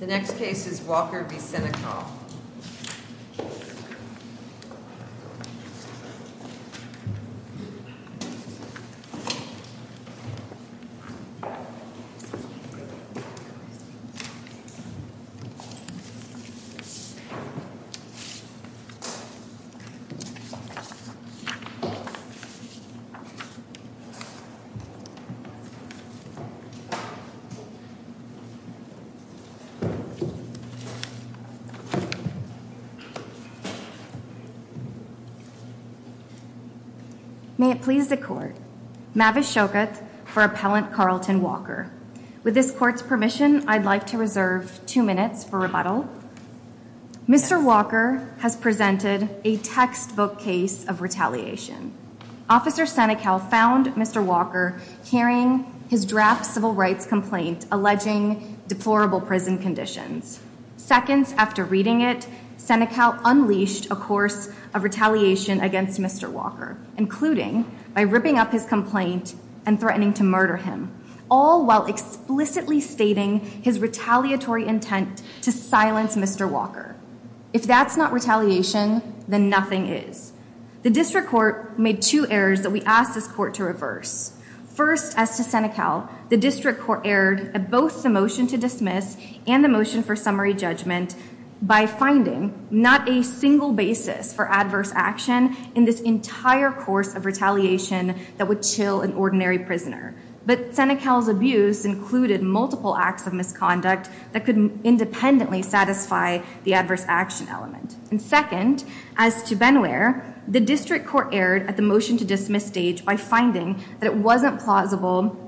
The next case is Walker v. Seneca. May it please the court, Mavis Shoket for appellant Carlton Walker. With this court's permission, I'd like to reserve two minutes for rebuttal. Mr. Walker has presented a textbook case of retaliation. Officer Seneca found Mr. Walker hearing his draft civil rights complaint alleging deplorable prison conditions. Seconds after reading it, Seneca unleashed a course of retaliation against Mr. Walker, including by ripping up his complaint and threatening to murder him, all while explicitly stating his retaliatory intent to silence Mr. Walker. If that's not retaliation, then nothing is. The district court made two that we asked this court to reverse. First, as to Seneca, the district court erred at both the motion to dismiss and the motion for summary judgment by finding not a single basis for adverse action in this entire course of retaliation that would chill an ordinary prisoner. But Seneca's abuse included multiple acts of misconduct that could independently satisfy the adverse action element. And second, as to Benwear, the district court erred at the motion to dismiss stage by finding that it wasn't plausible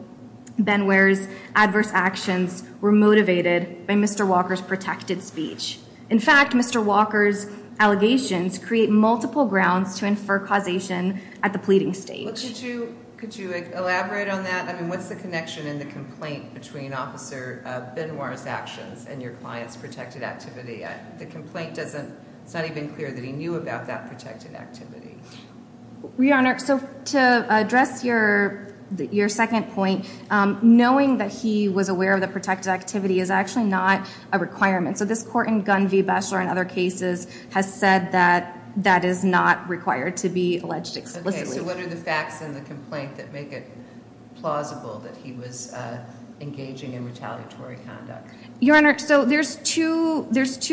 Benwear's adverse actions were motivated by Mr. Walker's protected speech. In fact, Mr. Walker's allegations create multiple grounds to infer causation at the pleading stage. Could you elaborate on that? I mean, what's the connection in the complaint between Officer Benwear's actions and your client's protected activity? The complaint doesn't, it's not even clear that he knew about that protected activity. Your Honor, so to address your second point, knowing that he was aware of the protected activity is actually not a requirement. So this court in Gunn v. Beschler and other cases has said that that is not required to be alleged explicitly. So what are the facts in the complaint that make it plausible that he was engaging in retaliatory conduct? Your Honor, so there's two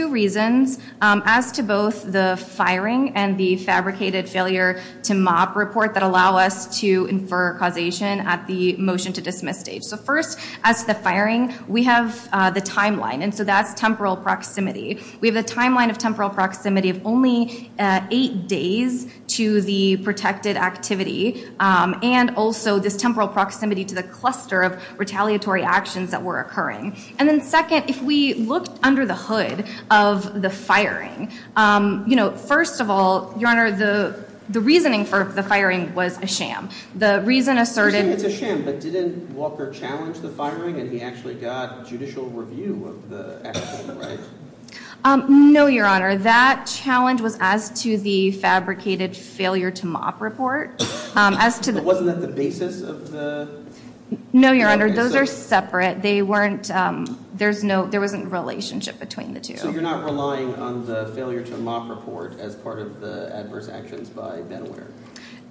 reasons as to both the firing and the fabricated failure to mop report that allow us to infer causation at the motion to dismiss stage. So first, as the firing, we have the timeline and so that's temporal proximity. We have a timeline of temporal proximity of only eight days to the protected activity and also this temporal proximity to the cluster of retaliatory actions that were occurring. And then second, if we looked under the hood of the firing, you know, first of all, Your Honor, the reasoning for the firing was a sham. The reason asserted... It's a sham, but didn't Walker challenge the firing and he actually got judicial review of the action, right? No, Your Honor, that challenge was as to the fabricated failure to mop report. As to the... Wasn't that the basis of the... No, Your Honor, those are separate. They weren't... There's no... There wasn't relationship between the two. So you're not relying on the failure to mop report as part of the adverse actions by Ben O'Hearn?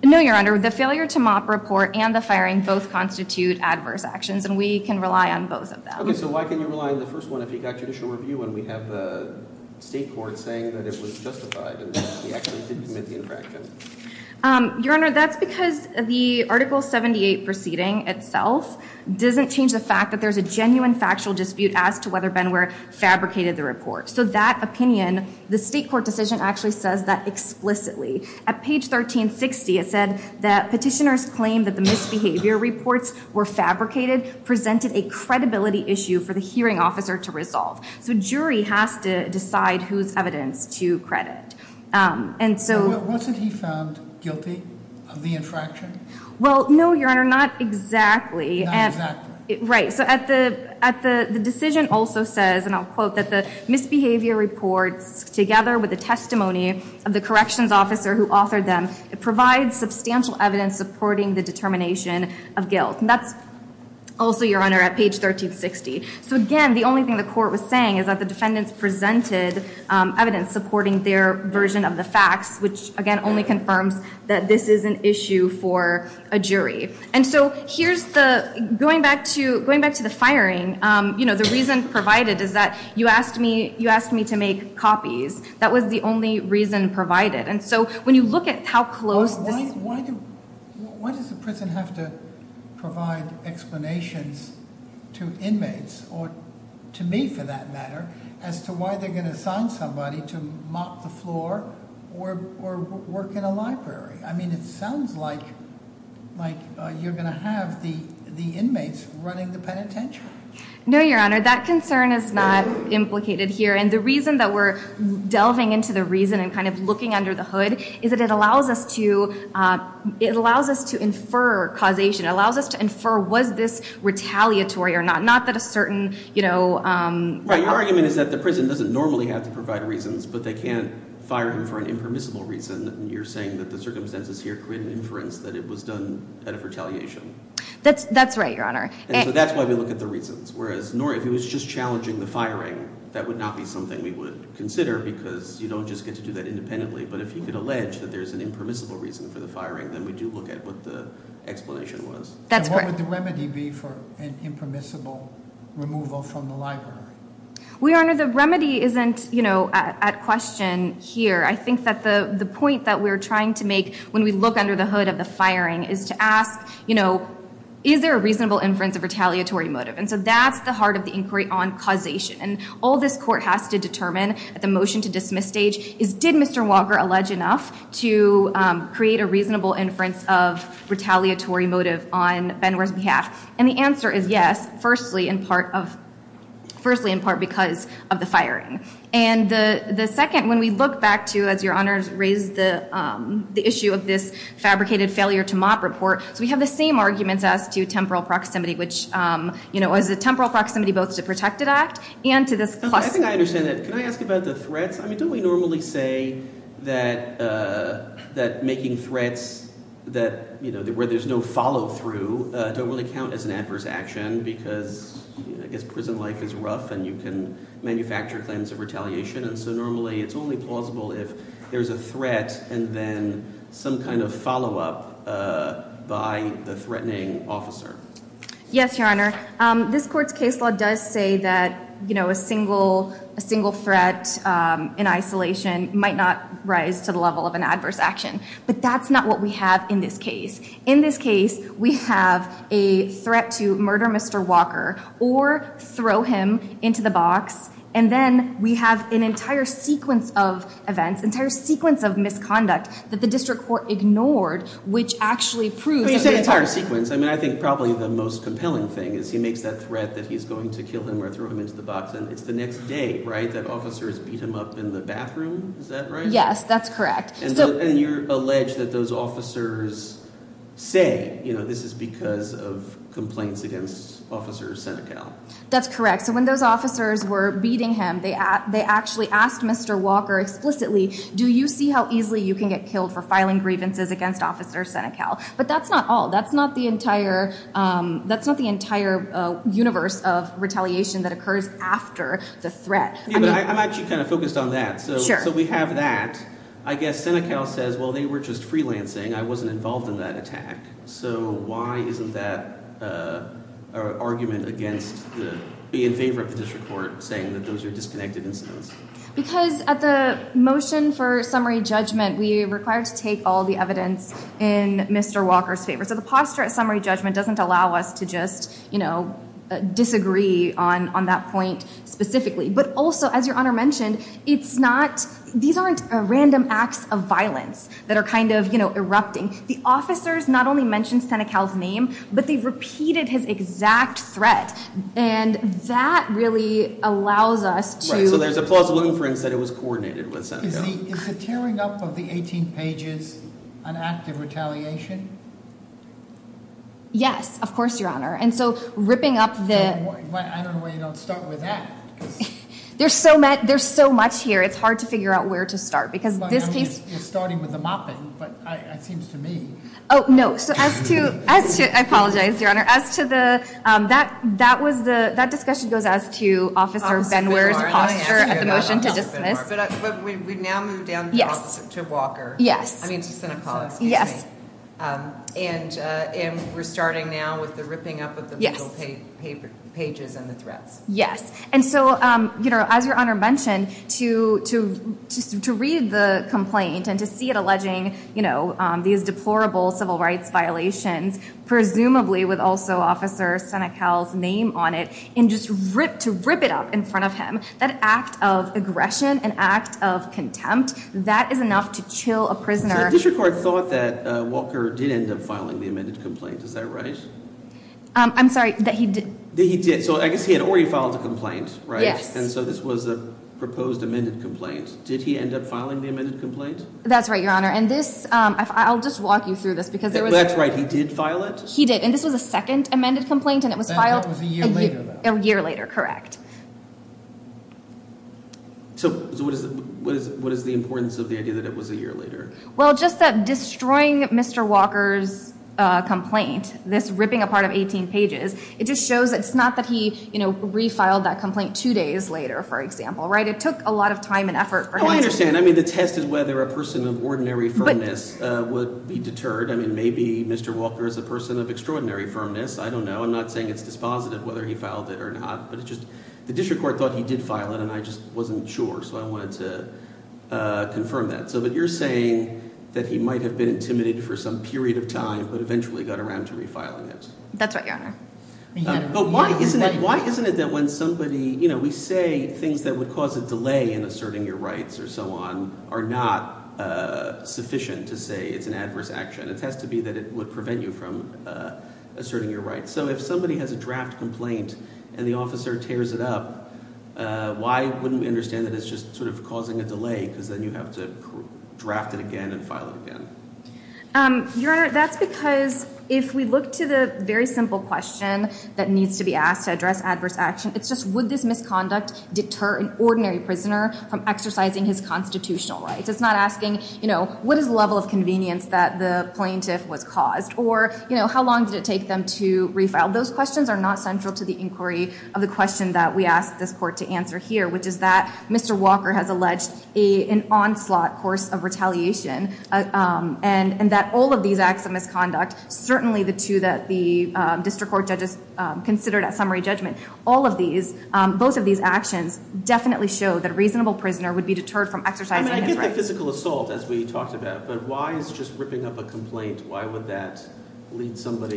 No, Your Honor, the failure to mop report and the firing both constitute adverse actions and we can rely on both of them. Okay, so why can you rely on the first one if you got judicial review and we have the state court saying that it was justified and that he actually did commit the infraction? Your Honor, that's because the Article 78 proceeding itself doesn't change the fact that there's a genuine factual dispute as to whether Ben O'Hearn fabricated the report. So that opinion, the state court decision actually says that explicitly. At page 1360, it said that petitioners claimed that the misbehavior reports were fabricated, presented a credibility issue for the hearing officer to resolve. So jury has to decide whose evidence to credit and so... Wasn't he found guilty of the infraction? Well, no, Your Honor, not exactly. Not exactly. Right, so at the... At the... The decision also says, and I'll quote, that the misbehavior reports together with the testimony of the corrections officer who authored them, it provides substantial evidence supporting the determination of guilt. And that's also, Your Honor, at page 1360. So again, the only thing the court was saying is that the defendants presented evidence supporting their version of the facts, which again only confirms that this is an issue for a jury. And so here's the... Going back to... Going back to the firing, you know, the reason provided is that you asked me... You asked me to make copies. That was the only reason provided. And so when you look at how close this... Why does the prison have to provide explanations to inmates, or to me for that matter, as to why they're gonna assign somebody to mop the floor or work in a library? I mean, it sounds like... Like you're gonna have the inmates running the penitentiary. No, Your Honor, that concern is not implicated here. And the reason that we're delving into the reason and kind of looking under the hood is that it allows us to... It allows us to infer causation. It allows us to infer, was this retaliatory or not? Not that a certain, you know... Right, your argument is that the prison doesn't normally have to provide reasons, but they can't fire him for an impermissible reason. And you're saying that the circumstances here create an inference that it was done at a retaliation. That's... That's right, Your Honor. And so that's why we look at the reasons. Whereas, nor... If it was just challenging the firing, that would not be something we would consider, because you don't just get to do that independently. But if you could allege that there's an impermissible reason for the firing, then we do look at what the explanation was. That's correct. And what would the remedy be for an impermissible removal from the library? Well, Your Honor, the remedy isn't, you know, at question here. I think that the... The point that we're trying to make when we look under the hood of the firing is to ask, you know, is there a reasonable inference of retaliatory motive? And so that's the heart of the inquiry on causation. And all this court has to determine at the motion-to-dismiss stage is, did Mr. Walker allege enough to create a reasonable inference of retaliatory motive on Benware's behalf? And the answer is yes, firstly in part of... Firstly in part because of the firing. And the... The second, when we look back to, as Your Honors raised, the issue of this fabricated failure-to-mop report, so we have the same arguments as to temporal proximity, which, you know, as a temporal proximity both to Protected Act and to this... I think I understand that. Can I ask about the threats? I mean, don't we normally say that... That making threats that, you know, where there's no follow-through, don't really count as an adverse action because, I guess, prison life is rough and you can manufacture claims of retaliation. And so normally it's only plausible if there's a threat and then some kind of follow-up by the threatening officer. Yes, Your Honor. This court's case law does say that, you know, a single... A single threat in isolation might not rise to the level of an adverse action, but that's not what we have in this case. In this case, we have a threat to murder Mr. Walker or throw him into the box, and then we have an entire sequence of events, entire sequence of misconduct that the district court ignored, which actually proves... You said entire sequence. I mean, I think probably the most compelling thing is he makes that threat that he's going to kill him or throw him into the box and it's the next day, right? That officers beat him up in the bathroom, is that right? Yes, that's correct. And you're alleged that those officers say, you know, this is because of complaints against Officer Senecal. That's correct. So when those officers were beating him, they actually asked Mr. Walker explicitly, do you see how easily you can get killed for filing grievances against Officer Senecal? But that's not all. That's not the entire... That's not the entire universe of retaliation that occurs after the threat. I'm actually kind of focused on that. So we have that. I guess Senecal says, well, they were just freelancing. I wasn't involved in that attack. So why isn't that an argument against being in favor of the district court saying that those are disconnected incidents? Because at the motion for summary judgment, we require to take all the evidence in Mr. Walker's favor. So the posture at summary judgment doesn't allow us to just, you know, disagree on that point specifically. But also, as Your Honor mentioned, it's not... These aren't random acts of violence that are kind of, you know, erupting. The officers not only mentioned Senecal's name, but they've repeated his exact threat. And that really allows us to... So there's a plausible inference that it was coordinated with Senecal. Is the tearing up of the 18 pages an act of retaliation? Yes, of course, Your Honor. And so ripping up the... I don't know why you don't start with that. There's so much here, it's hard to figure out where to start. Because this case... You're starting with the mopping, but it seems to me... Oh, no. So as to... I apologize, Your Honor. As to the... That was the... That discussion goes as to Officer Benware's posture at the motion to dismiss. But we now move down to Walker. Yes. I mean to Senecal, excuse me. Yes. And we're starting now with the ripping up of the pages and the threats. Yes. And so, you know, as Your Honor mentioned, to read the complaint and to see it alleging, you know, these deplorable civil rights violations, presumably with also Officer Senecal's name on it, and just rip... To aggression, an act of contempt, that is enough to chill a prisoner. So the district court thought that Walker did end up filing the amended complaint, is that right? I'm sorry, that he did. That he did. So I guess he had already filed a complaint, right? Yes. And so this was a proposed amended complaint. Did he end up filing the amended complaint? That's right, Your Honor. And this... I'll just walk you through this because there was... That's right, he did file it? He did. And this was a second amended complaint and it was filed... So what is the importance of the idea that it was a year later? Well, just that destroying Mr. Walker's complaint, this ripping apart of 18 pages, it just shows it's not that he, you know, refiled that complaint two days later, for example, right? It took a lot of time and effort. Oh, I understand. I mean, the test is whether a person of ordinary firmness would be deterred. I mean, maybe Mr. Walker is a person of extraordinary firmness. I don't know. I'm not saying it's dispositive whether he filed it or not, but it's just the district court thought he did file it and I just wasn't sure. So I wanted to confirm that. So, but you're saying that he might have been intimidated for some period of time, but eventually got around to refiling it. That's right, Your Honor. But why isn't it that when somebody, you know, we say things that would cause a delay in asserting your rights or so on are not sufficient to say it's an adverse action. It has to be that it would prevent you from asserting your rights. So if somebody has a draft complaint and the officer tears it up, why wouldn't we understand that it's just sort of causing a delay because then you have to draft it again and file it again? Your Honor, that's because if we look to the very simple question that needs to be asked to address adverse action, it's just would this misconduct deter an ordinary prisoner from exercising his constitutional rights? It's not asking, you know, what is the level of convenience that the plaintiff was caused or, you know, how long did it take them to refile? Those questions are not central to the inquiry of the question that we asked this court to answer here, which is that Mr. Walker has alleged an onslaught course of retaliation and that all of these acts of misconduct, certainly the two that the district court judges considered at summary judgment, all of these, both of these actions definitely show that a reasonable prisoner would be deterred from exercising his rights. I mean, I get the physical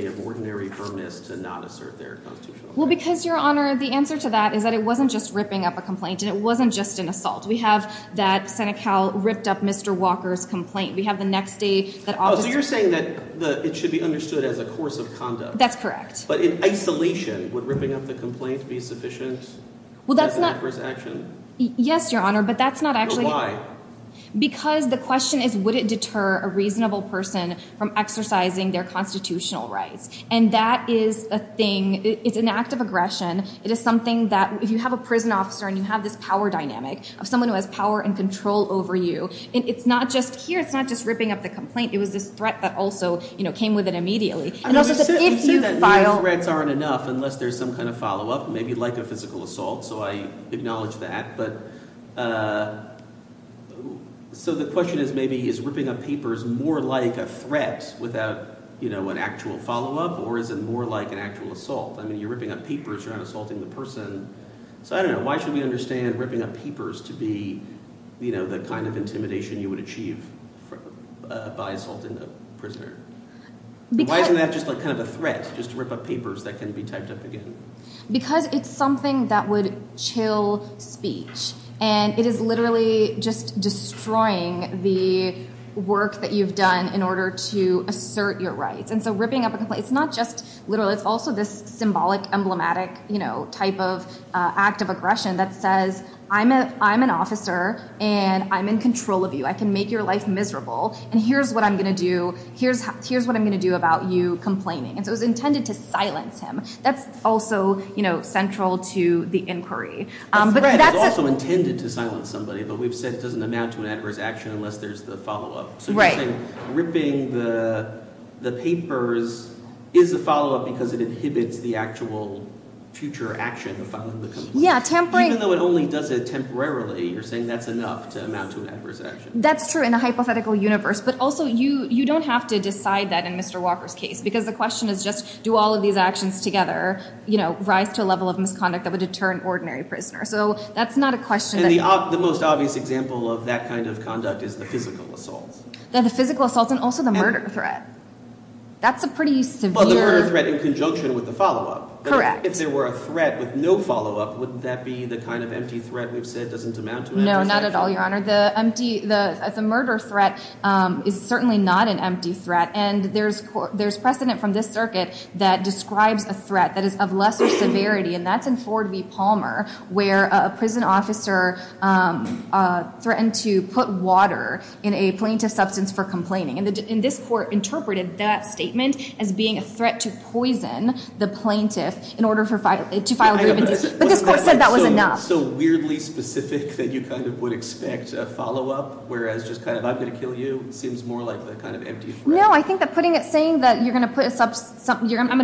of ordinary firmness to not assert their constitutional rights. Well, because, Your Honor, the answer to that is that it wasn't just ripping up a complaint and it wasn't just an assault. We have that Senecal ripped up Mr. Walker's complaint. We have the next day that officer... Oh, so you're saying that it should be understood as a course of conduct? That's correct. But in isolation, would ripping up the complaint be sufficient? Well, that's not... Yes, Your Honor, but that's not actually... No, why? Because the question is would it deter a reasonable person from exercising their constitutional rights? And that is a thing. It's an act of aggression. It is something that if you have a prison officer and you have this power dynamic of someone who has power and control over you, it's not just here. It's not just ripping up the complaint. It was this threat that also, you know, came with it immediately. And also, if you file... I would say that these threats aren't enough unless there's some kind of follow-up, maybe like a physical assault. So I acknowledge that. So the question is maybe is ripping up papers more like a threat without, you know, an actual follow-up or is it more like an actual assault? I mean, you're ripping up papers. You're not assaulting the person. So I don't know. Why should we understand ripping up papers to be, you know, the kind of intimidation you would achieve by assaulting a prisoner? Why isn't that just like kind of a threat, just to rip up papers that can be typed up again? Because it's something that would chill speech. And it is literally just destroying the work that you've done in order to assert your rights. And so ripping up a complaint, it's not just literal. It's also this symbolic, emblematic, you know, type of act of aggression that says, I'm an officer and I'm in control of you. I can make your life miserable. And here's what I'm going to do. Here's what I'm going to do about you complaining. And so it was intended to silence him. That's also, you know, central to the inquiry. But that's also intended to silence somebody, but we've said it doesn't amount to an adverse action unless there's the follow-up. So you're saying ripping the papers is a follow-up because it inhibits the actual future action. Even though it only does it temporarily, you're saying that's enough to amount to an adverse action. That's true in a hypothetical universe. But also you don't have to decide that in Mr. Walker's case. Because the question is just do all of these actions together, you know, rise to a level of misconduct that would deter an ordinary prisoner. So that's not a question that... And the most obvious example of that kind of conduct is the physical assaults. Yeah, the physical assaults and also the murder threat. That's a pretty severe... Well, the murder threat in conjunction with the follow-up. Correct. If there were a threat with no follow-up, wouldn't that be the kind of empty threat we've said doesn't amount to an adverse action? No, not at all, Your Honor. The murder threat is certainly not an empty threat. And there's precedent from this circuit that describes a threat that is of lesser severity, and that's in Ford v. Palmer, where a prison officer threatened to put water in a plaintiff substance for complaining. And this court interpreted that statement as being a threat to poison the plaintiff in order to file grievances. But this court said that was enough. So weirdly specific that you kind of would expect a follow-up, whereas just kind of, I'm going to kill you, seems more like the kind of empty threat. No, I think that putting it... Saying that you're going to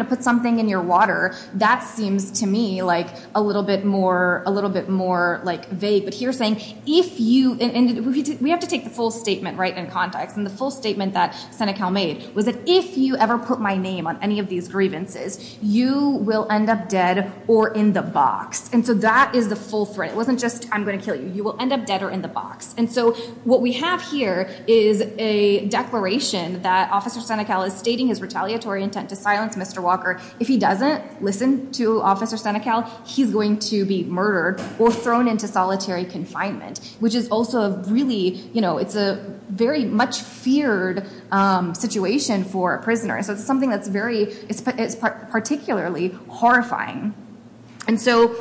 put something in your water, that seems to me like a little bit more vague. But here saying, if you... And we have to take the full statement right in context. And the full statement that Senecal made was that, if you ever put my name on these grievances, you will end up dead or in the box. And so that is the full threat. It wasn't just, I'm going to kill you. You will end up dead or in the box. And so what we have here is a declaration that Officer Senecal is stating his retaliatory intent to silence Mr. Walker. If he doesn't listen to Officer Senecal, he's going to be murdered or thrown into solitary confinement, which is also really... It's a very much feared situation for a prisoner. So it's something that's particularly horrifying. And so...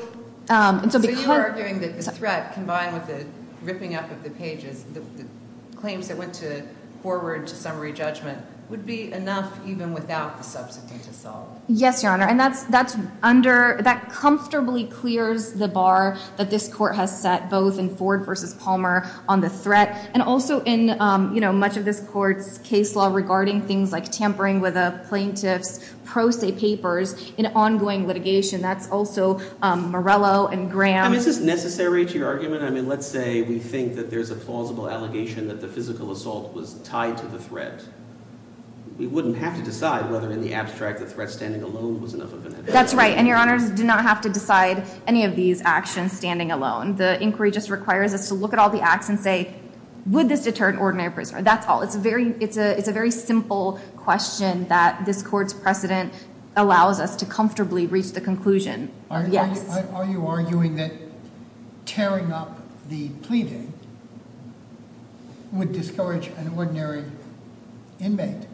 So you're arguing that the threat combined with the ripping up of the pages, the claims that went forward to summary judgment, would be enough even without the subsequent assault? Yes, Your Honor. And that comfortably clears the bar that this court has set both in Ford versus Palmer on the threat, and also in much of this court's case law regarding things like tampering with a plaintiff's pro se papers in ongoing litigation. That's also Morello and Graham. I mean, is this necessary to your argument? I mean, let's say we think that there's a plausible allegation that the physical assault was tied to the threat. We wouldn't have to decide whether in the abstract the threat standing alone was enough of an evidence. That's right. And Your Honors, do not have to decide any of these actions standing alone. The inquiry just requires us to look at all the acts and say, would this deter an ordinary prisoner? That's all. It's a very simple question that this court's precedent allows us to comfortably reach the conclusion. Are you arguing that tearing up the pleading would discourage an ordinary inmate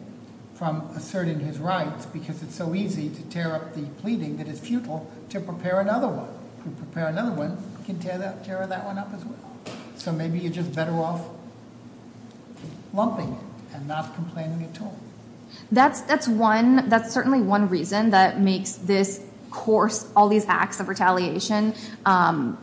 from asserting his rights because it's so easy to tear up the pleading that it's futile to prepare another one? To prepare another one, you can tear that one up as well. So maybe you're better off lumping it and not complaining at all. That's one, that's certainly one reason that makes this course, all these acts of retaliation,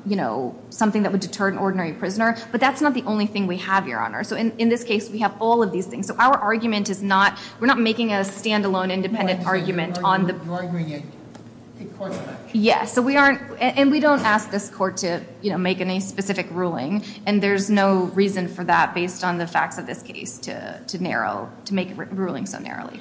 you know, something that would deter an ordinary prisoner. But that's not the only thing we have, Your Honor. So in this case, we have all of these things. So our argument is not, we're not making a standalone independent argument on the- You're arguing a court action. Yeah, so we aren't, and we don't ask this court to, you know, make any specific ruling. And there's no reason for that based on the facts of this case to narrow, to make ruling so narrowly.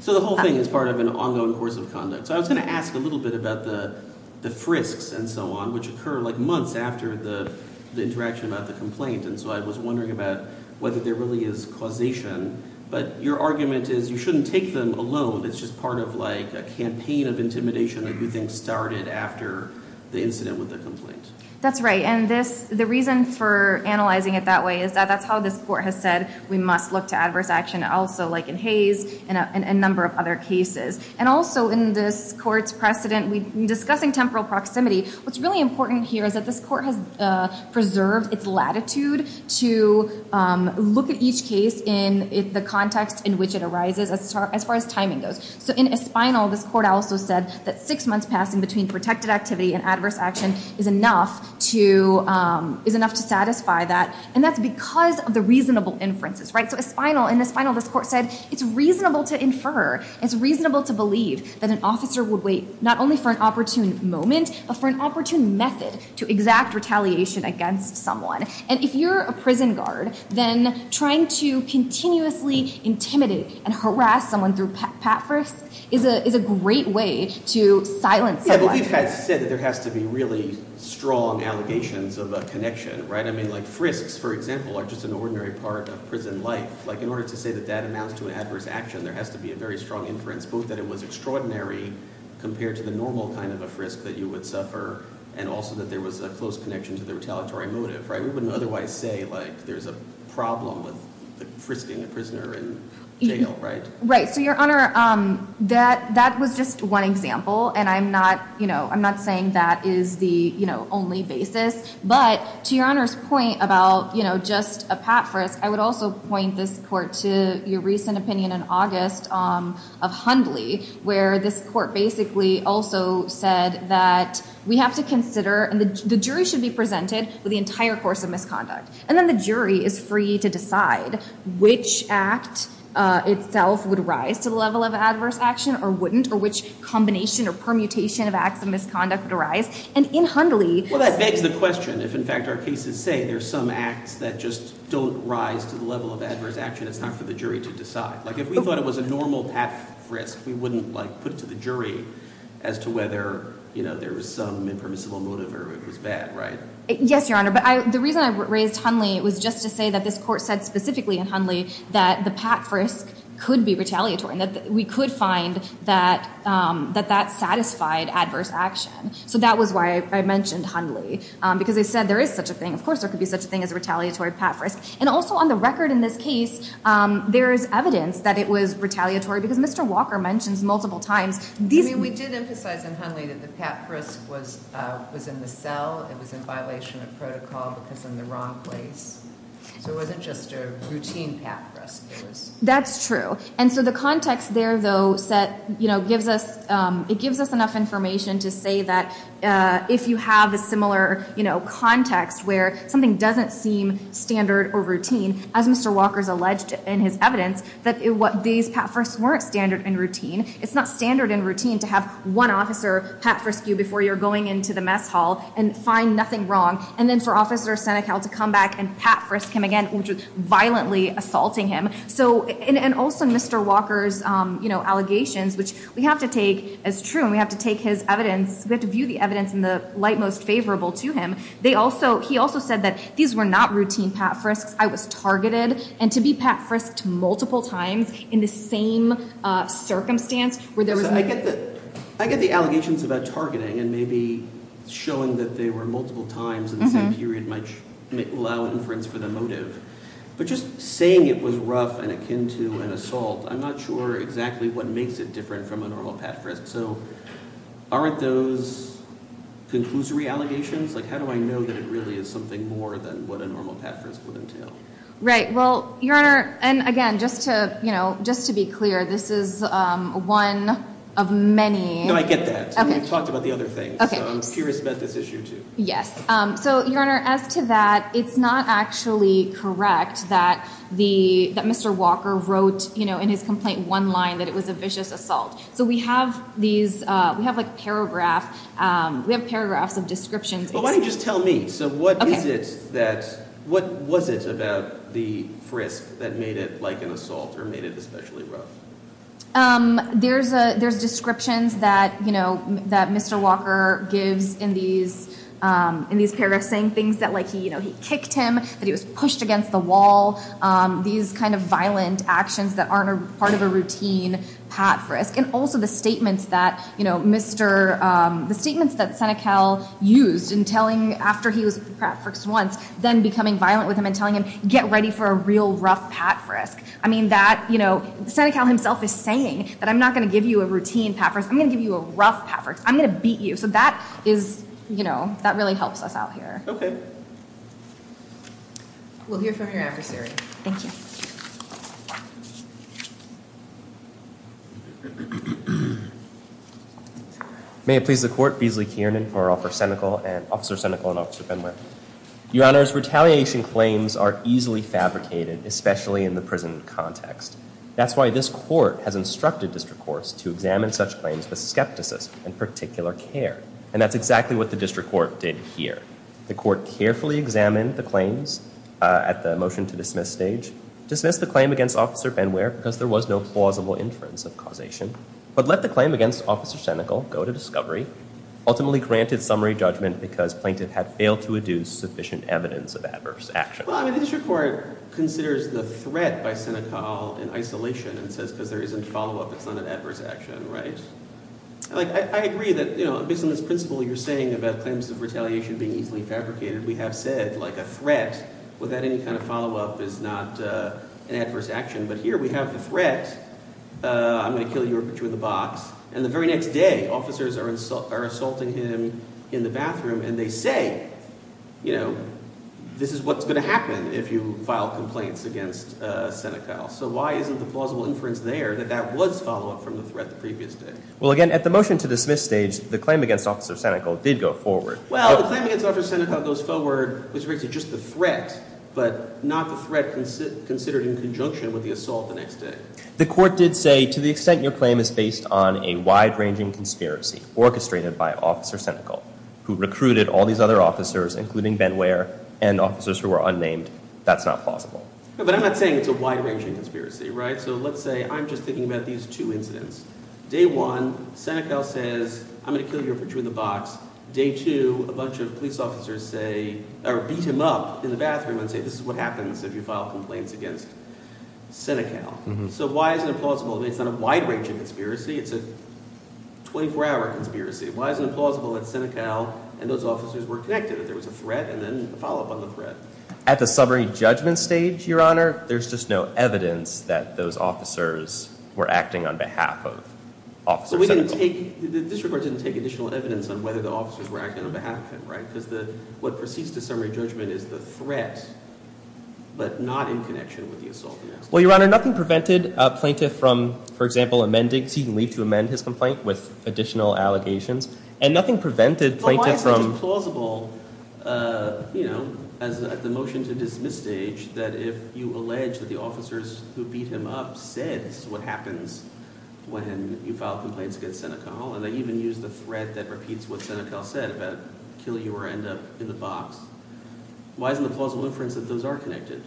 So the whole thing is part of an ongoing course of conduct. So I was going to ask a little bit about the frisks and so on, which occur like months after the interaction about the complaint. And so I was wondering about whether there really is causation. But your argument is you shouldn't take them alone. It's just part of like a campaign of intimidation that you think started after the incident with the complaint. That's right. And this, the reason for analyzing it that way is that that's how this court has said we must look to adverse action also, like in Hayes and a number of other cases. And also in this court's precedent, discussing temporal proximity, what's really important here is that this court has preserved its latitude to look at each case in the context in which it arises, as far as timing goes. So in Espinal, this court also said that six months passing between protected activity and adverse action is enough to satisfy that. And that's because of the reasonable inferences, right? So Espinal, in Espinal, this court said it's reasonable to infer, it's reasonable to believe that an officer would wait not only for an opportune moment, but for an opportune method to exact retaliation against someone. And if you're a prison guard, then trying to continuously intimidate and harass someone through pat frisks is a great way to silence someone. Yeah, but you guys said that there has to be really strong allegations of a connection, right? I mean, like frisks, for example, are just an ordinary part of prison life. Like in order to say that that amounts to an adverse action, there has to be a very strong inference, both that it was extraordinary compared to the normal kind of a frisk that you would suffer, and also that there was a close connection to the retaliatory motive, right? We wouldn't otherwise say like there's a problem with frisking a prisoner in jail, right? Right, so your honor, that was just one example, and I'm not saying that is the only basis. But to your honor's point about just a pat frisk, I would also point this court to your recent opinion in August of Hundley, where this court basically also said that we have to consider, and the jury should be presented with the entire course of itself, would rise to the level of adverse action or wouldn't, or which combination or permutation of acts of misconduct would arise. And in Hundley... Well, that begs the question, if in fact our cases say there's some acts that just don't rise to the level of adverse action, it's not for the jury to decide. Like if we thought it was a normal pat frisk, we wouldn't like put it to the jury as to whether, you know, there was some impermissible motive or it was bad, right? Yes, your honor, but the reason I raised Hundley was just to say that this court said in Hundley that the pat frisk could be retaliatory and that we could find that that satisfied adverse action. So that was why I mentioned Hundley, because they said there is such a thing, of course there could be such a thing as a retaliatory pat frisk. And also on the record in this case, there is evidence that it was retaliatory because Mr. Walker mentions multiple times... I mean, we did emphasize in Hundley that the pat frisk was in the cell, it was in routine pat frisks. That's true. And so the context there, though, it gives us enough information to say that if you have a similar, you know, context where something doesn't seem standard or routine, as Mr. Walker's alleged in his evidence, that these pat frisks weren't standard and routine. It's not standard and routine to have one officer pat frisk you before you're going into the mess hall and find nothing wrong, and then for Officer Senecal to come back and pat frisk him again, which was violently assaulting him. So, and also Mr. Walker's, you know, allegations, which we have to take as true, and we have to take his evidence, we have to view the evidence in the light most favorable to him. They also, he also said that these were not routine pat frisks. I was targeted. And to be pat frisked multiple times in the same circumstance where there was... I get the allegations about targeting and maybe showing that they were multiple times in the same period might allow inference for the motive, but just saying it was rough and akin to an assault, I'm not sure exactly what makes it different from a normal pat frisk. So aren't those conclusory allegations? Like, how do I know that it really is something more than what a normal pat frisk would entail? Right. Well, Your Honor, and again, just to, you know, just to be clear, this is one of many... No, I get that. We've met this issue too. Yes. So Your Honor, as to that, it's not actually correct that the, that Mr. Walker wrote, you know, in his complaint, one line that it was a vicious assault. So we have these, we have like paragraph, we have paragraphs of descriptions. Well, why don't you just tell me, so what is it that, what was it about the frisk that made it like an assault or made it especially rough? There's a, there's descriptions that, you know, that Mr. Walker gives in these, in these paragraphs saying things that like he, you know, he kicked him, that he was pushed against the wall. These kinds of violent actions that aren't a part of a routine pat frisk. And also the statements that, you know, Mr., the statements that Senecal used in telling, after he was pat frisked once, then becoming violent with him and telling him, get ready for a real rough pat frisk. I mean that, you know, Senecal himself is saying that I'm not going to give you a routine pat frisk. I'm going to give you a rough pat frisk. I'm going to beat you. So that is, you know, that really helps us out here. Okay. We'll hear from your adversary. Thank you. May it please the court, Beasley Kiernan for Officer Senecal and Officer Benwick. Your honors, retaliation claims are easily fabricated, especially in the prison context. That's why this court has instructed district courts to examine such claims with skepticism and particular care. And that's exactly what the district court did here. The court carefully examined the claims at the motion to dismiss stage, dismissed the claim against Officer Benwick because there was no plausible inference of causation, but let the claim against Officer Senecal go to discovery, ultimately granted summary judgment because plaintiff had failed to adduce sufficient evidence of adverse action. Well, I mean, district court considers the threat by Senecal in isolation and says, because there isn't follow-up, it's not an adverse action, right? Like, I agree that, you know, based on this principle you're saying about claims of retaliation being easily fabricated, we have said like a threat without any kind of follow-up is not an adverse action. But here we have the threat. I'm going to kill you or put you in the box. And the very next day officers are assaulting him in the bathroom and they say, you know, this is what's going to happen if you file complaints against Senecal. So why isn't the plausible inference there that that was follow-up from the threat the previous day? Well, again, at the motion to dismiss stage, the claim against Officer Senecal did go forward. Well, the claim against Officer Senecal goes forward, which raises just the threat, but not the threat considered in conjunction with the assault the next day. The court did say, to the extent your claim is based on a wide-ranging conspiracy orchestrated by Officer Senecal, who recruited all these other including Ben Ware and officers who were unnamed, that's not plausible. But I'm not saying it's a wide-ranging conspiracy, right? So let's say I'm just thinking about these two incidents. Day one, Senecal says, I'm going to kill you or put you in the box. Day two, a bunch of police officers say, or beat him up in the bathroom and say, this is what happens if you file complaints against Senecal. So why is it plausible? It's not a wide-ranging conspiracy. It's a 24-hour conspiracy. Why is it implausible that Senecal and those officers were connected, that there was a threat and then a follow-up on the threat? At the summary judgment stage, Your Honor, there's just no evidence that those officers were acting on behalf of Officer Senecal. The district court didn't take additional evidence on whether the officers were acting on behalf of him, right? Because what proceeds to summary judgment is the threat, but not in connection with the assault the next day. Well, Your Honor, nothing prevented a plaintiff from, for example, seeking leave to amend his complaint with additional allegations. And nothing prevented plaintiff from... But why is it implausible, you know, as the motion to dismiss stage, that if you allege that the officers who beat him up said, this is what happens when you file complaints against Senecal, and they even use the threat that repeats what Senecal said about kill you or end up in the box. Why isn't the plausible inference that those are connected?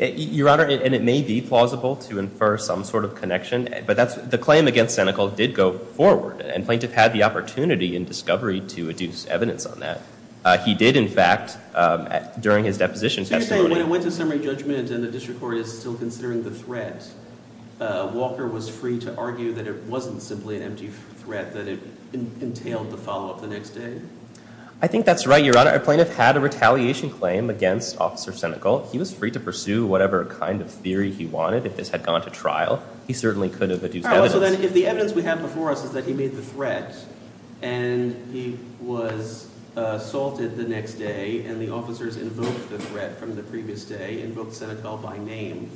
Your Honor, and it may be plausible to infer some sort of connection, but the claim against Senecal did go forward, and plaintiff had the opportunity in discovery to adduce evidence on that. He did, in fact, during his deposition testimony... So you're saying when it went to summary judgment and the district court is still considering the threat, Walker was free to argue that it wasn't simply an empty threat, that it entailed the follow-up the next day? I think that's right, Your Honor. A plaintiff had a retaliation claim against Officer Senecal. He was free to pursue whatever kind of theory he wanted. If this had gone to trial, he certainly could have adduced evidence. So then if the evidence we have before us is that he made the threat, and he was assaulted the next day, and the officers invoked the threat from the previous day, invoked Senecal by name,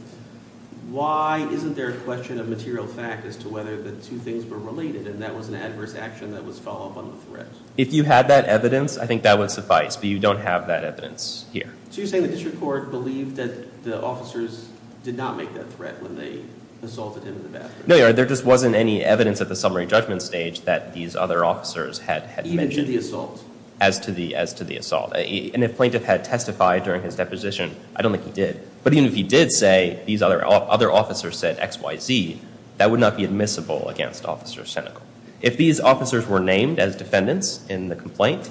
why isn't there a question of material fact as to whether the two things were related, and that was an adverse action that was follow-up on the threat? If you had that evidence, I think that would suffice, but you don't have that evidence here. So you're saying the district court believed that the officers did not make that threat when they assaulted him in the bathroom? No, Your Honor, there just wasn't any evidence at the summary judgment stage that these other officers had mentioned. Even to the assault? As to the assault. And if plaintiff had testified during his deposition, I don't think he did. But even if he did say these other officers said X, Y, Z, that would not be admissible against Officer Senecal. If these officers were named as defendants in the complaint,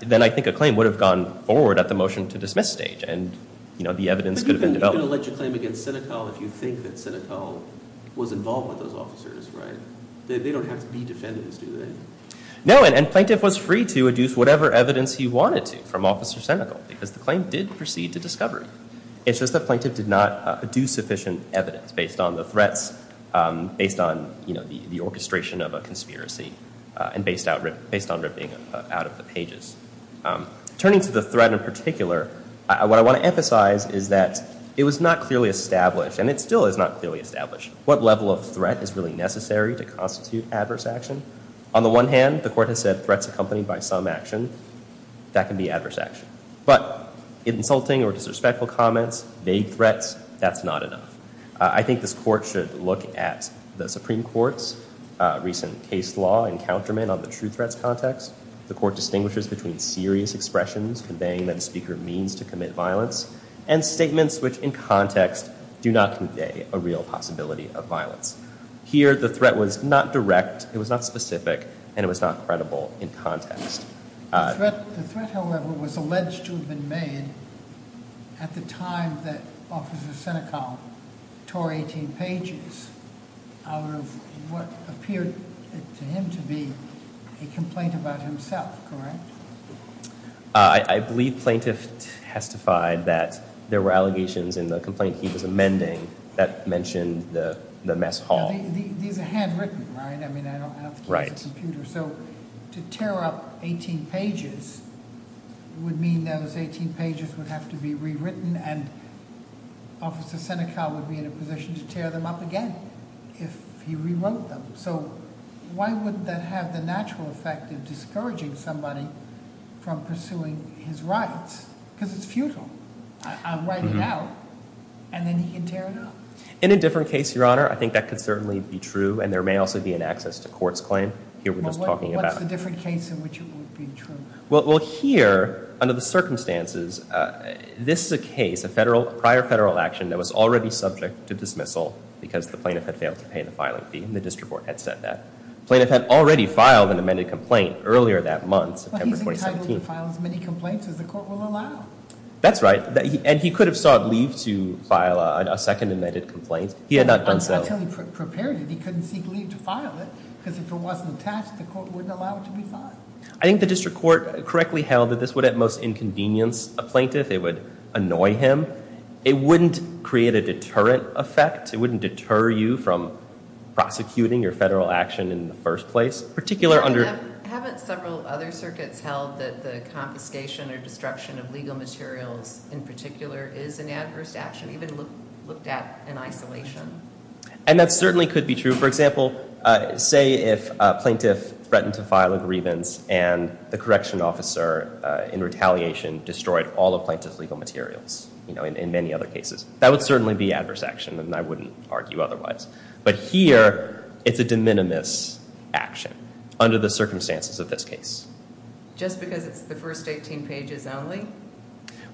then I think a claim would have gone forward at the motion-to-dismiss stage, and the evidence could have been developed. But you can allege a claim against Senecal if you think that Senecal was involved with those officers, right? They don't have to be defendants, do they? No, and plaintiff was free to adduce whatever evidence he wanted to from Officer Senecal, because the claim did proceed to discovery. It's just that plaintiff did not do sufficient evidence based on the threats, based on the orchestration of a threat in particular. What I want to emphasize is that it was not clearly established, and it still is not clearly established, what level of threat is really necessary to constitute adverse action. On the one hand, the court has said threats accompanied by some action, that can be adverse action. But insulting or disrespectful comments, vague threats, that's not enough. I think this court should look at the Supreme Court's recent case law and countermeasure on the true threats context. The court distinguishes between serious expressions conveying that a speaker means to commit violence, and statements which in context do not convey a real possibility of violence. Here the threat was not direct, it was not specific, and it was not credible in context. The threat, however, was alleged to have been made at the time that Officer Senecal tore 18 pages out of what appeared to him to be a complaint about himself, correct? I believe plaintiff testified that there were allegations in the complaint he was amending that mentioned the mess hall. These are handwritten, right? I mean, I don't have to use a computer. So to tear up 18 pages would mean those 18 pages would have to be rewritten, and Officer Senecal would be in a position to tear them up again if he rewrote them. So why wouldn't that have the natural effect of discouraging somebody from pursuing his rights? Because it's futile. I'll write it out, and then he can tear it up. In a different case, Your Honor, I think that could certainly be true, and there may also be an access to court's claim here we're just talking about. What's the different case in which it would be true? Well here, under the circumstances, this is a case, a prior federal action that was already subject to dismissal because the plaintiff had failed to pay the filing fee, and the district court had said that. Plaintiff had already filed an amended complaint earlier that month, September 2017. He's entitled to file as many complaints as the court will allow. That's right, and he could have sought leave to file a second amended complaint. He had not done so. Until he prepared it, he couldn't seek leave to file it, because if it wasn't attached, the court wouldn't allow it to be filed. I think the district court correctly held that this would, at most, inconvenience a plaintiff. It would annoy him. It wouldn't create a deterrent effect. It wouldn't deter you from prosecuting your federal action in the first place. Haven't several other circuits held that the confiscation or destruction of legal materials, in particular, is an adverse action? Even looked at in isolation? And that certainly could be true. For example, say if a plaintiff threatened to file a grievance and the correction officer, in retaliation, destroyed all of plaintiff's legal materials, you know, in many other cases. That would certainly be adverse action, and I wouldn't argue otherwise. But here, it's a de minimis action under the circumstances of this case. Just because it's the first 18 pages only?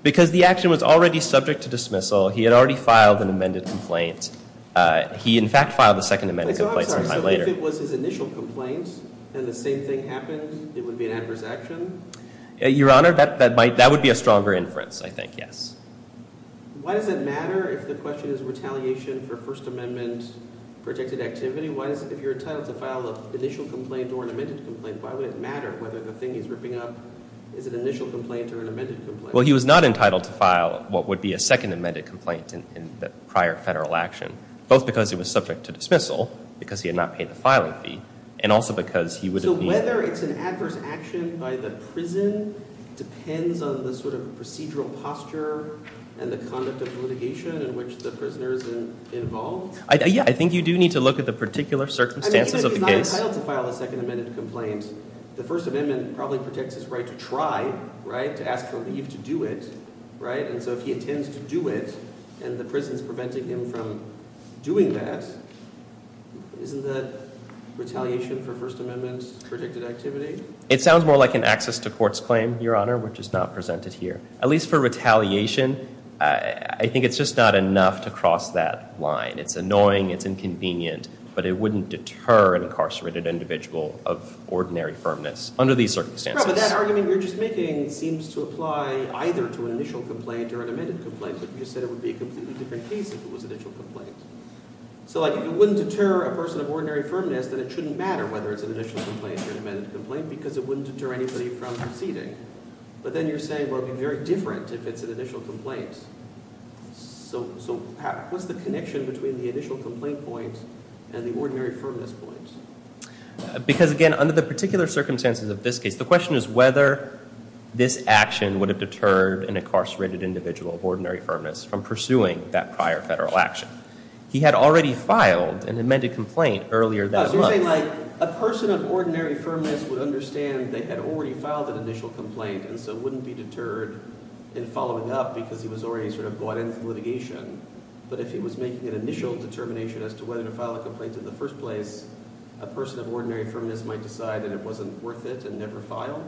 Because the action was already subject to dismissal. He had already filed an amended complaint. He, in fact, filed a second amended complaint sometime later. If it was his initial complaint, and the same thing happened, it would be an adverse action? Your Honor, that might, that would be a stronger inference, I think, yes. Why does it matter if the question is retaliation for First Amendment protected activity? Why does, if you're entitled to file an initial complaint or an amended complaint, why would it matter whether the thing he's ripping up is an initial complaint or an amended complaint? Well, he was not entitled to file what would be a second amended complaint in the prior federal action, both because it was subject to dismissal, because he had not paid the filing fee, and also because he would have been... So whether it's an adverse action by the prison depends on the sort of procedural posture and the conduct of litigation in which the prisoners are involved? Yeah, I think you do need to look at the particular circumstances of the case. I mean, if he's not entitled to file a second amended complaint, the First Amendment probably protects his right to try, right, to ask for leave to do it, right? And so if he intends to do it and the prison's preventing him from doing that, isn't the retaliation for First Amendment protected activity? It sounds more like an access to court's claim, Your Honor, which is not presented here. At least for retaliation, I think it's just not enough to cross that line. It's annoying, it's inconvenient, but it wouldn't deter an incarcerated individual of ordinary firmness under these circumstances. But that argument you're just making seems to apply either to an initial complaint or an amended complaint, but you said it would be a completely different case if it was an initial complaint. So like, if it wouldn't deter a person of ordinary firmness, then it shouldn't matter whether it's an initial complaint or an amended complaint because it wouldn't deter anybody from proceeding. But then you're saying, well, it'd be very different if it's an initial complaint. So what's the connection between the initial complaint point and the ordinary firmness point? Because, again, under the particular circumstances of this case, the question is whether this action would have deterred an incarcerated individual of ordinary firmness from pursuing that prior federal action. He had already filed an amended complaint earlier that month. Oh, so you're saying, like, a person of ordinary firmness would understand they had already filed an initial complaint and so wouldn't be deterred in following up because he was already sort of bought into litigation. But if he was making an initial determination as to whether to file a complaint in the first place, a person of ordinary firmness might decide that it wasn't worth it and never file.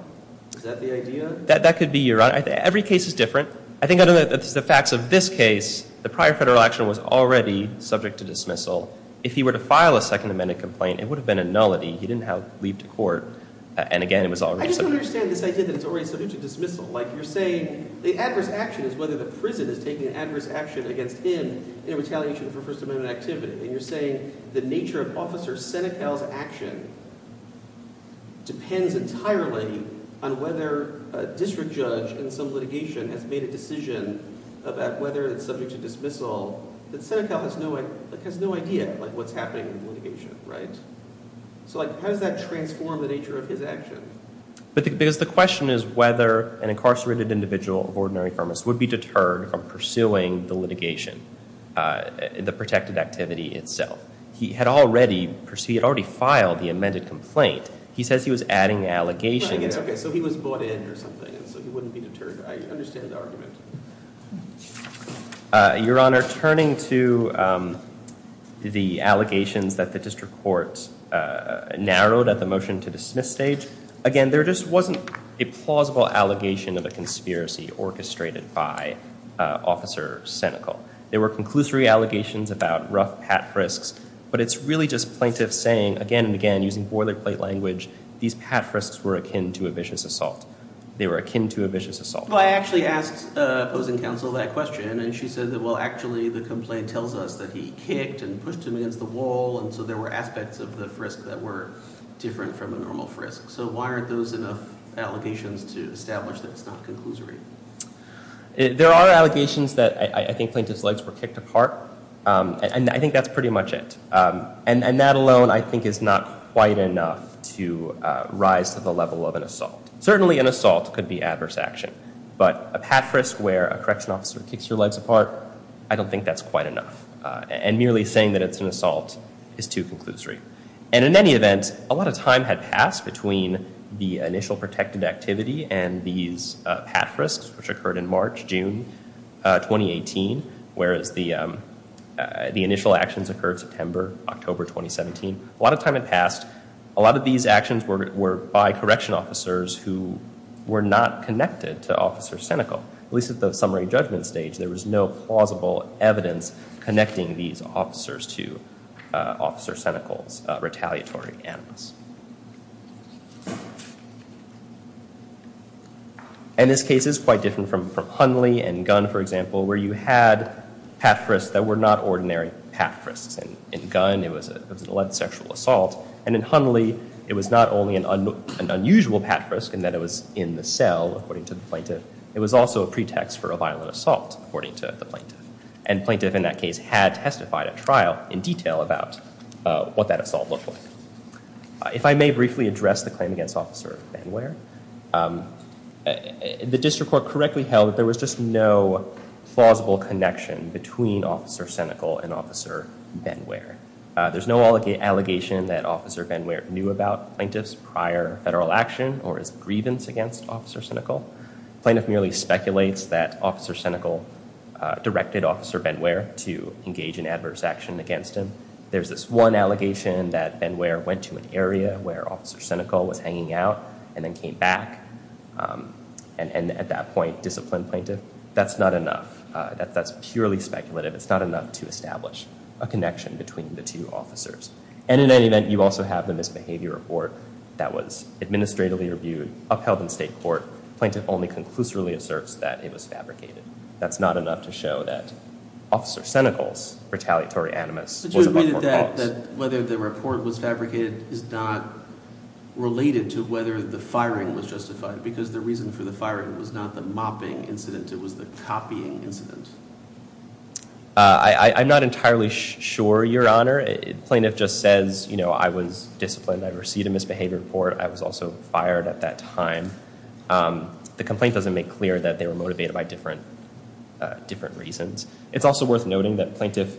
Is that the idea? That could be, Your Honor. Every case is different. I think under the facts of this case, the prior federal action was already subject to dismissal. If he were to file a second amended complaint, it would have been a nullity. He didn't have to leave to court. And again, it was already submitted. I just don't understand this idea that it's already subject to dismissal. Like, you're saying the adverse action is whether the prison is taking an adverse action against him in retaliation for First Amendment activity. And you're saying the nature of Officer Senecal's action depends entirely on whether a district judge in some litigation has made a decision about whether it's subject to dismissal that Senecal has no idea what's happening in the litigation, right? So how does that transform the nature of his action? Because the question is whether an incarcerated individual of ordinary firmness would be deterred from pursuing the litigation, the protected activity itself. He had already filed the amended complaint. He says he was adding allegations. Okay, so he was bought in or something. So he wouldn't be deterred. I understand the argument. Your Honor, turning to the allegations that the district courts narrowed at the motion to dismiss stage, again, there just wasn't a plausible allegation of a conspiracy orchestrated by Officer Senecal. There were conclusory allegations about rough pat frisks. But it's really just plaintiffs saying, again and again, using boilerplate language, these pat frisks were akin to a vicious assault. They were akin to a vicious assault. Well, I actually asked opposing counsel that question. And she said that, well, actually, the complaint tells us that he kicked and pushed him against the wall. And so there were aspects of the frisk that were different from a normal frisk. So why aren't those enough allegations to establish that it's not conclusory? There are allegations that I think plaintiffs' legs were kicked apart. And I think that's pretty much it. And that alone, I think, is not quite enough to rise to the level of an assault. Certainly, an assault could be adverse action. But a pat frisk where a correction officer kicks your legs apart, I don't think that's quite enough. And merely saying that it's an assault is too conclusory. And in any event, a lot of time had passed between the initial protected activity and these pat frisks, which occurred in March, June 2018, whereas the initial actions occurred September, October 2017. A lot of time had passed. A lot of these actions were by correction officers who were not connected to Officer Senecal. At least at the summary judgment stage, there was no plausible evidence connecting these officers to Officer Senecal's retaliatory animals. And this case is quite different from Hundley and Gunn, for example, where you had pat frisks that were not ordinary pat frisks. In Gunn, it was an alleged sexual assault. And in Hundley, it was not only an unusual pat frisk in that it was in the cell, according to the plaintiff. It was also a pretext for a violent assault, according to the plaintiff. And the plaintiff in that case had testified at trial in detail about what that assault looked like. If I may briefly address the claim against Officer Benware, the district court correctly held that there was just no plausible connection between Officer Senecal and Officer Benware. There's no allegation that Officer Benware knew about plaintiff's prior federal action or his grievance against Officer Senecal. Plaintiff merely speculates that Officer Senecal directed Officer Benware to engage in adverse action against him. There's this one allegation that Benware went to an area where Officer Senecal was hanging out and then came back and at that point disciplined plaintiff. That's not enough. That's purely speculative. It's not enough to establish a connection between the two officers. And in any event, you also have the misbehavior report that was administratively reviewed, upheld in state court. Plaintiff only conclusively asserts that it was fabricated. That's not enough to show that Officer Senecal's retaliatory animus Whether the report was fabricated is not related to whether the firing was justified, because the reason for the firing was not the mopping incident. It was the copying incident. I'm not entirely sure, your honor. Plaintiff just says, you know, I was disciplined. I received a misbehavior report. I was also fired at that time. The complaint doesn't make clear that they were motivated by different reasons. It's also worth noting that plaintiff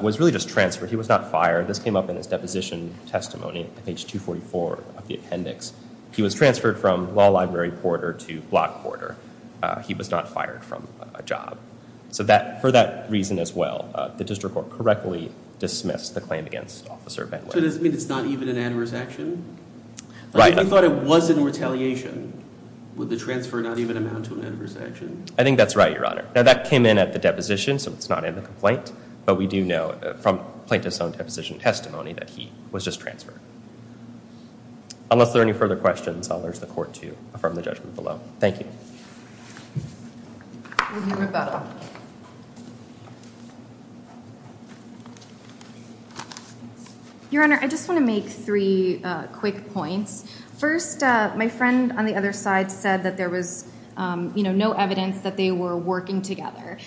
was really just transferred. He was not fired. This came up in his deposition testimony, page 244 of the appendix. He was transferred from law library porter to block porter. He was not fired from a job. So for that reason as well, the district court correctly dismissed the claim against Officer Benware. Does that mean it's not even an animus action? If you thought it was in retaliation, would the transfer not even amount to an animus action? I think that's right, your honor. Now, that came in at the deposition, so it's not in the complaint, but we do know from plaintiff's own deposition testimony that he was just transferred. Unless there are any further questions, I'll urge the court to affirm the judgment below. Thank you. Thank you, your honor. I just want to make three quick points. First, my friend on the other side said that there was, you know, no evidence that they were working together,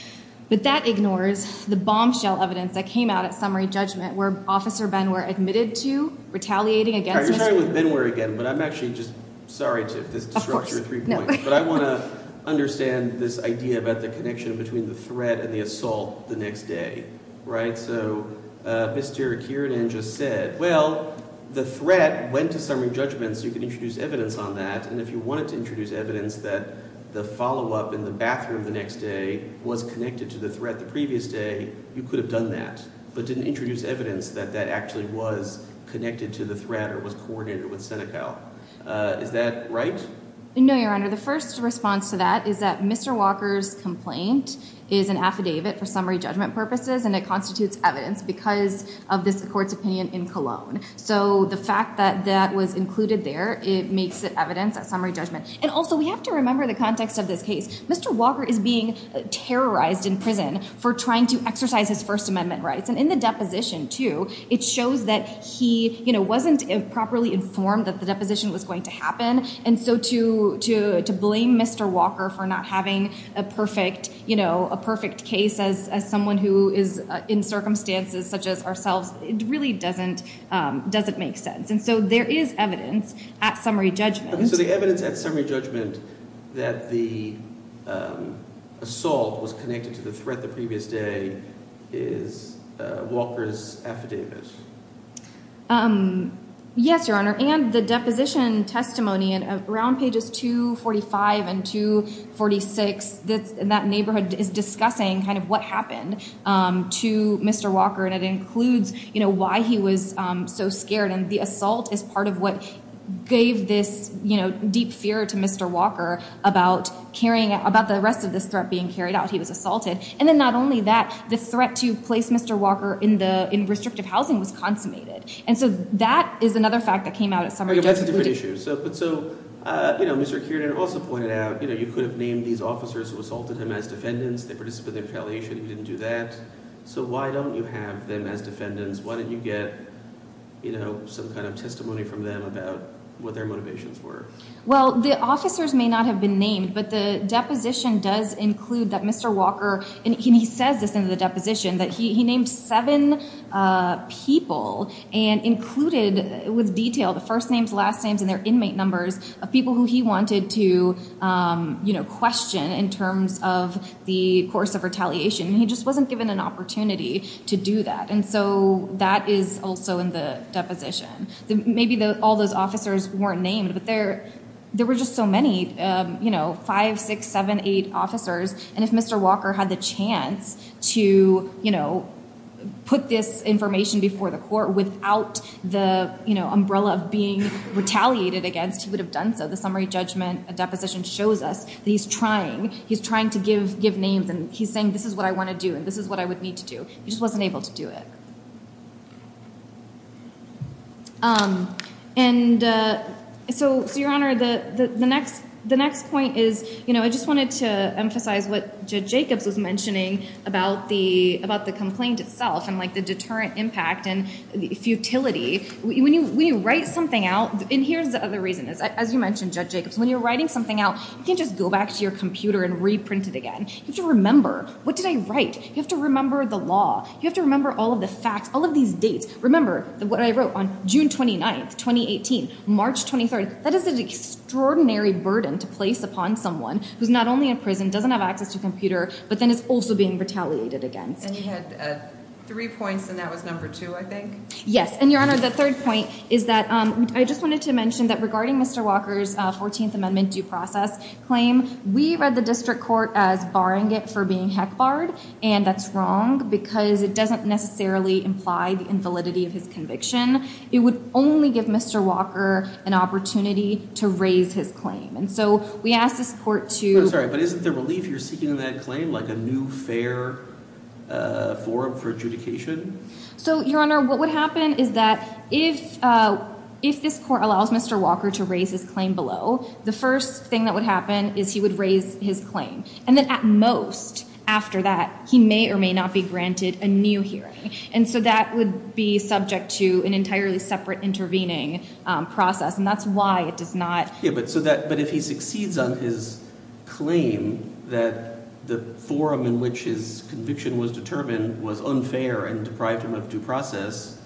but that ignores the bombshell evidence that came out at summary judgment where Officer Benware admitted to retaliating against. You're starting with Benware again, but I'm actually just disrupting your three points. But I want to understand this idea about the connection between the threat and the assault the next day, right? So Mr. Akiranan just said, well, the threat went to summary judgment, so you can introduce evidence on that. And if you wanted to introduce evidence that the follow-up in the bathroom the next day was connected to the threat the previous day, you could have done that, but didn't introduce evidence that that actually was connected to the threat or was coordinated with Senegal. Is that right? No, your honor. The first response to that is that Mr. Walker's complaint is an affidavit for summary judgment purposes, and it constitutes evidence because of this court's opinion in Cologne. So the fact that that was included there, it makes it evidence at summary judgment. And also, we have to remember the context of this case. Mr. Walker is being terrorized in prison for trying to exercise his First Amendment rights. And in the deposition, too, it shows that he wasn't properly informed that the deposition was going to happen. And so to blame Mr. Walker for not having a perfect case as someone who is in circumstances such as ourselves, it really doesn't make sense. And so there is evidence at summary judgment. So the evidence at summary judgment that the assault was connected to the threat the previous day is Walker's affidavit. Yes, your honor. And the deposition testimony around pages 245 and 246, that neighborhood is discussing kind of what happened to Mr. Walker, and it includes why he was so scared. And the assault is part of what gave this deep fear to Mr. Walker about the rest of this threat being carried out. He was assaulted. And then not only that, the threat to place Mr. Walker in restrictive housing was consummated. And so that is another fact that came out at summary judgment. That's a different issue. But so, you know, Mr. Kiernan also pointed out, you know, you could have named these officers who assaulted him as defendants. They participated in retaliation. He didn't do that. So why don't you have them as defendants? Why don't you get, you know, some kind of testimony from them about what their motivations were? Well, the officers may not have been named, but the deposition does include that Mr. Walker, and he says this in the deposition, that he named seven people and included with detail the first names, last names, and their inmate numbers of people who he wanted to, you know, question in terms of the course of retaliation. He just wasn't given an opportunity to do that. And so that is also in the deposition. Maybe all those officers weren't named, but there were just so many, you know, five, six, seven, eight officers. And if Mr. Walker had the chance to, you know, put this information before the court without the, you know, umbrella of being retaliated against, he would have done so. The summary judgment deposition shows us that he's trying. He's trying to give names. And he's saying, this is what I want to do. And this is what I would need to do. He just wasn't able to do it. And so, Your Honor, the next point is, you know, I just wanted to emphasize what Judge Jacobs was mentioning about the complaint itself and, like, the deterrent impact and futility. When you write something out, and here's the other reason is, as you mentioned, Judge Jacobs, when you're writing something out, you can't just go back to your computer and reprint it again. You have to remember, what did I write? You have to remember the law. You have to remember all of the facts, all of these dates. Remember what I wrote on June 29th, 2018, March 23rd. That is an extraordinary burden to place upon someone who's not only in prison, doesn't have access to a computer, but then is also being retaliated against. And you had three points, and that was number two, I think? Yes. And, Your Honor, the third point is that I just wanted to mention that regarding Mr. Walker's 14th Amendment due process claim, we read the district court as barring it for being heck barred, and that's wrong because it doesn't necessarily imply the invalidity of his conviction. It would only give Mr. Walker an opportunity to raise his claim. And so, we asked this court to... I'm sorry, but isn't the relief you're seeking in that claim like a new fair forum for adjudication? So, Your Honor, what would happen is that if this court allows Mr. Walker to raise his claim below, the first thing that would happen is he would raise his claim, and then at most after that, he may or may not be granted a new hearing. And so, that would be subject to an entirely separate intervening process, and that's why it does not... Yeah, but if he succeeds on his claim that the forum in which his conviction was determined was unfair and deprived him of due process,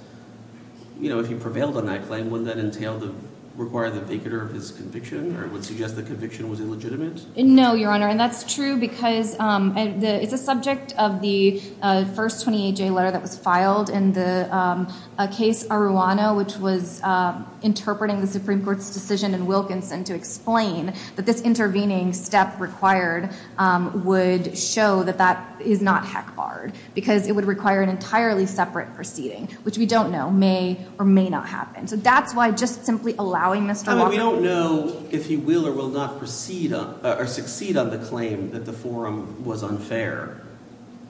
you know, if he prevailed on that claim, wouldn't that entail to require the vicator of his conviction, or it would suggest the conviction was illegitimate? No, Your Honor, and that's true because it's a subject of the first 28-J letter that was filed in the case Arruano, which was interpreting the Supreme Court's decision in to explain that this intervening step required would show that that is not heck barred, because it would require an entirely separate proceeding, which we don't know may or may not happen. So, that's why just simply allowing Mr. Walker... I mean, we don't know if he will or will not proceed or succeed on the claim that the forum was unfair,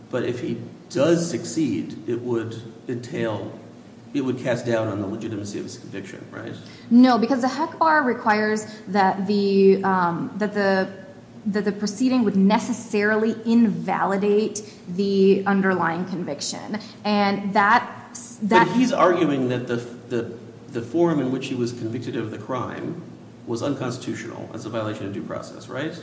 but if he does succeed, it would entail... it would cast doubt on the legitimacy of his conviction, right? No, because the heck bar requires that the proceeding would necessarily invalidate the underlying conviction, and that... But he's arguing that the forum in which he was convicted of the crime was unconstitutional as a violation of due process, right?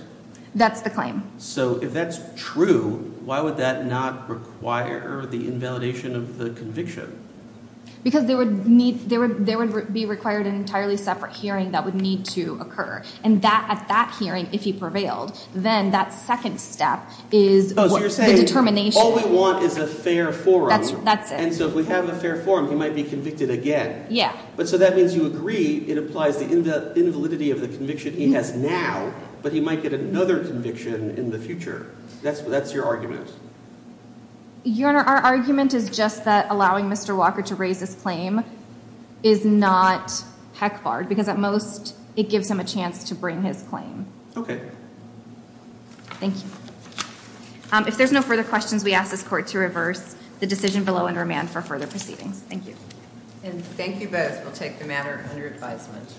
That's the claim. So, if that's true, why would that not require the invalidation of the conviction? Because there would be required an entirely separate hearing that would need to occur, and at that hearing, if he prevailed, then that second step is... Oh, so you're saying all we want is a fair forum. That's it. And so, if we have a fair forum, he might be convicted again. Yeah. But so, that means you agree it applies the invalidity of the conviction he has now, but he might get another conviction in the future. That's what your argument is. Your Honor, our argument is just that allowing Mr. Walker to raise his claim is not heck barred, because at most, it gives him a chance to bring his claim. Okay. Thank you. If there's no further questions, we ask this court to reverse the decision below and remand for further proceedings. Thank you. And thank you both. We'll take the matter under advisement.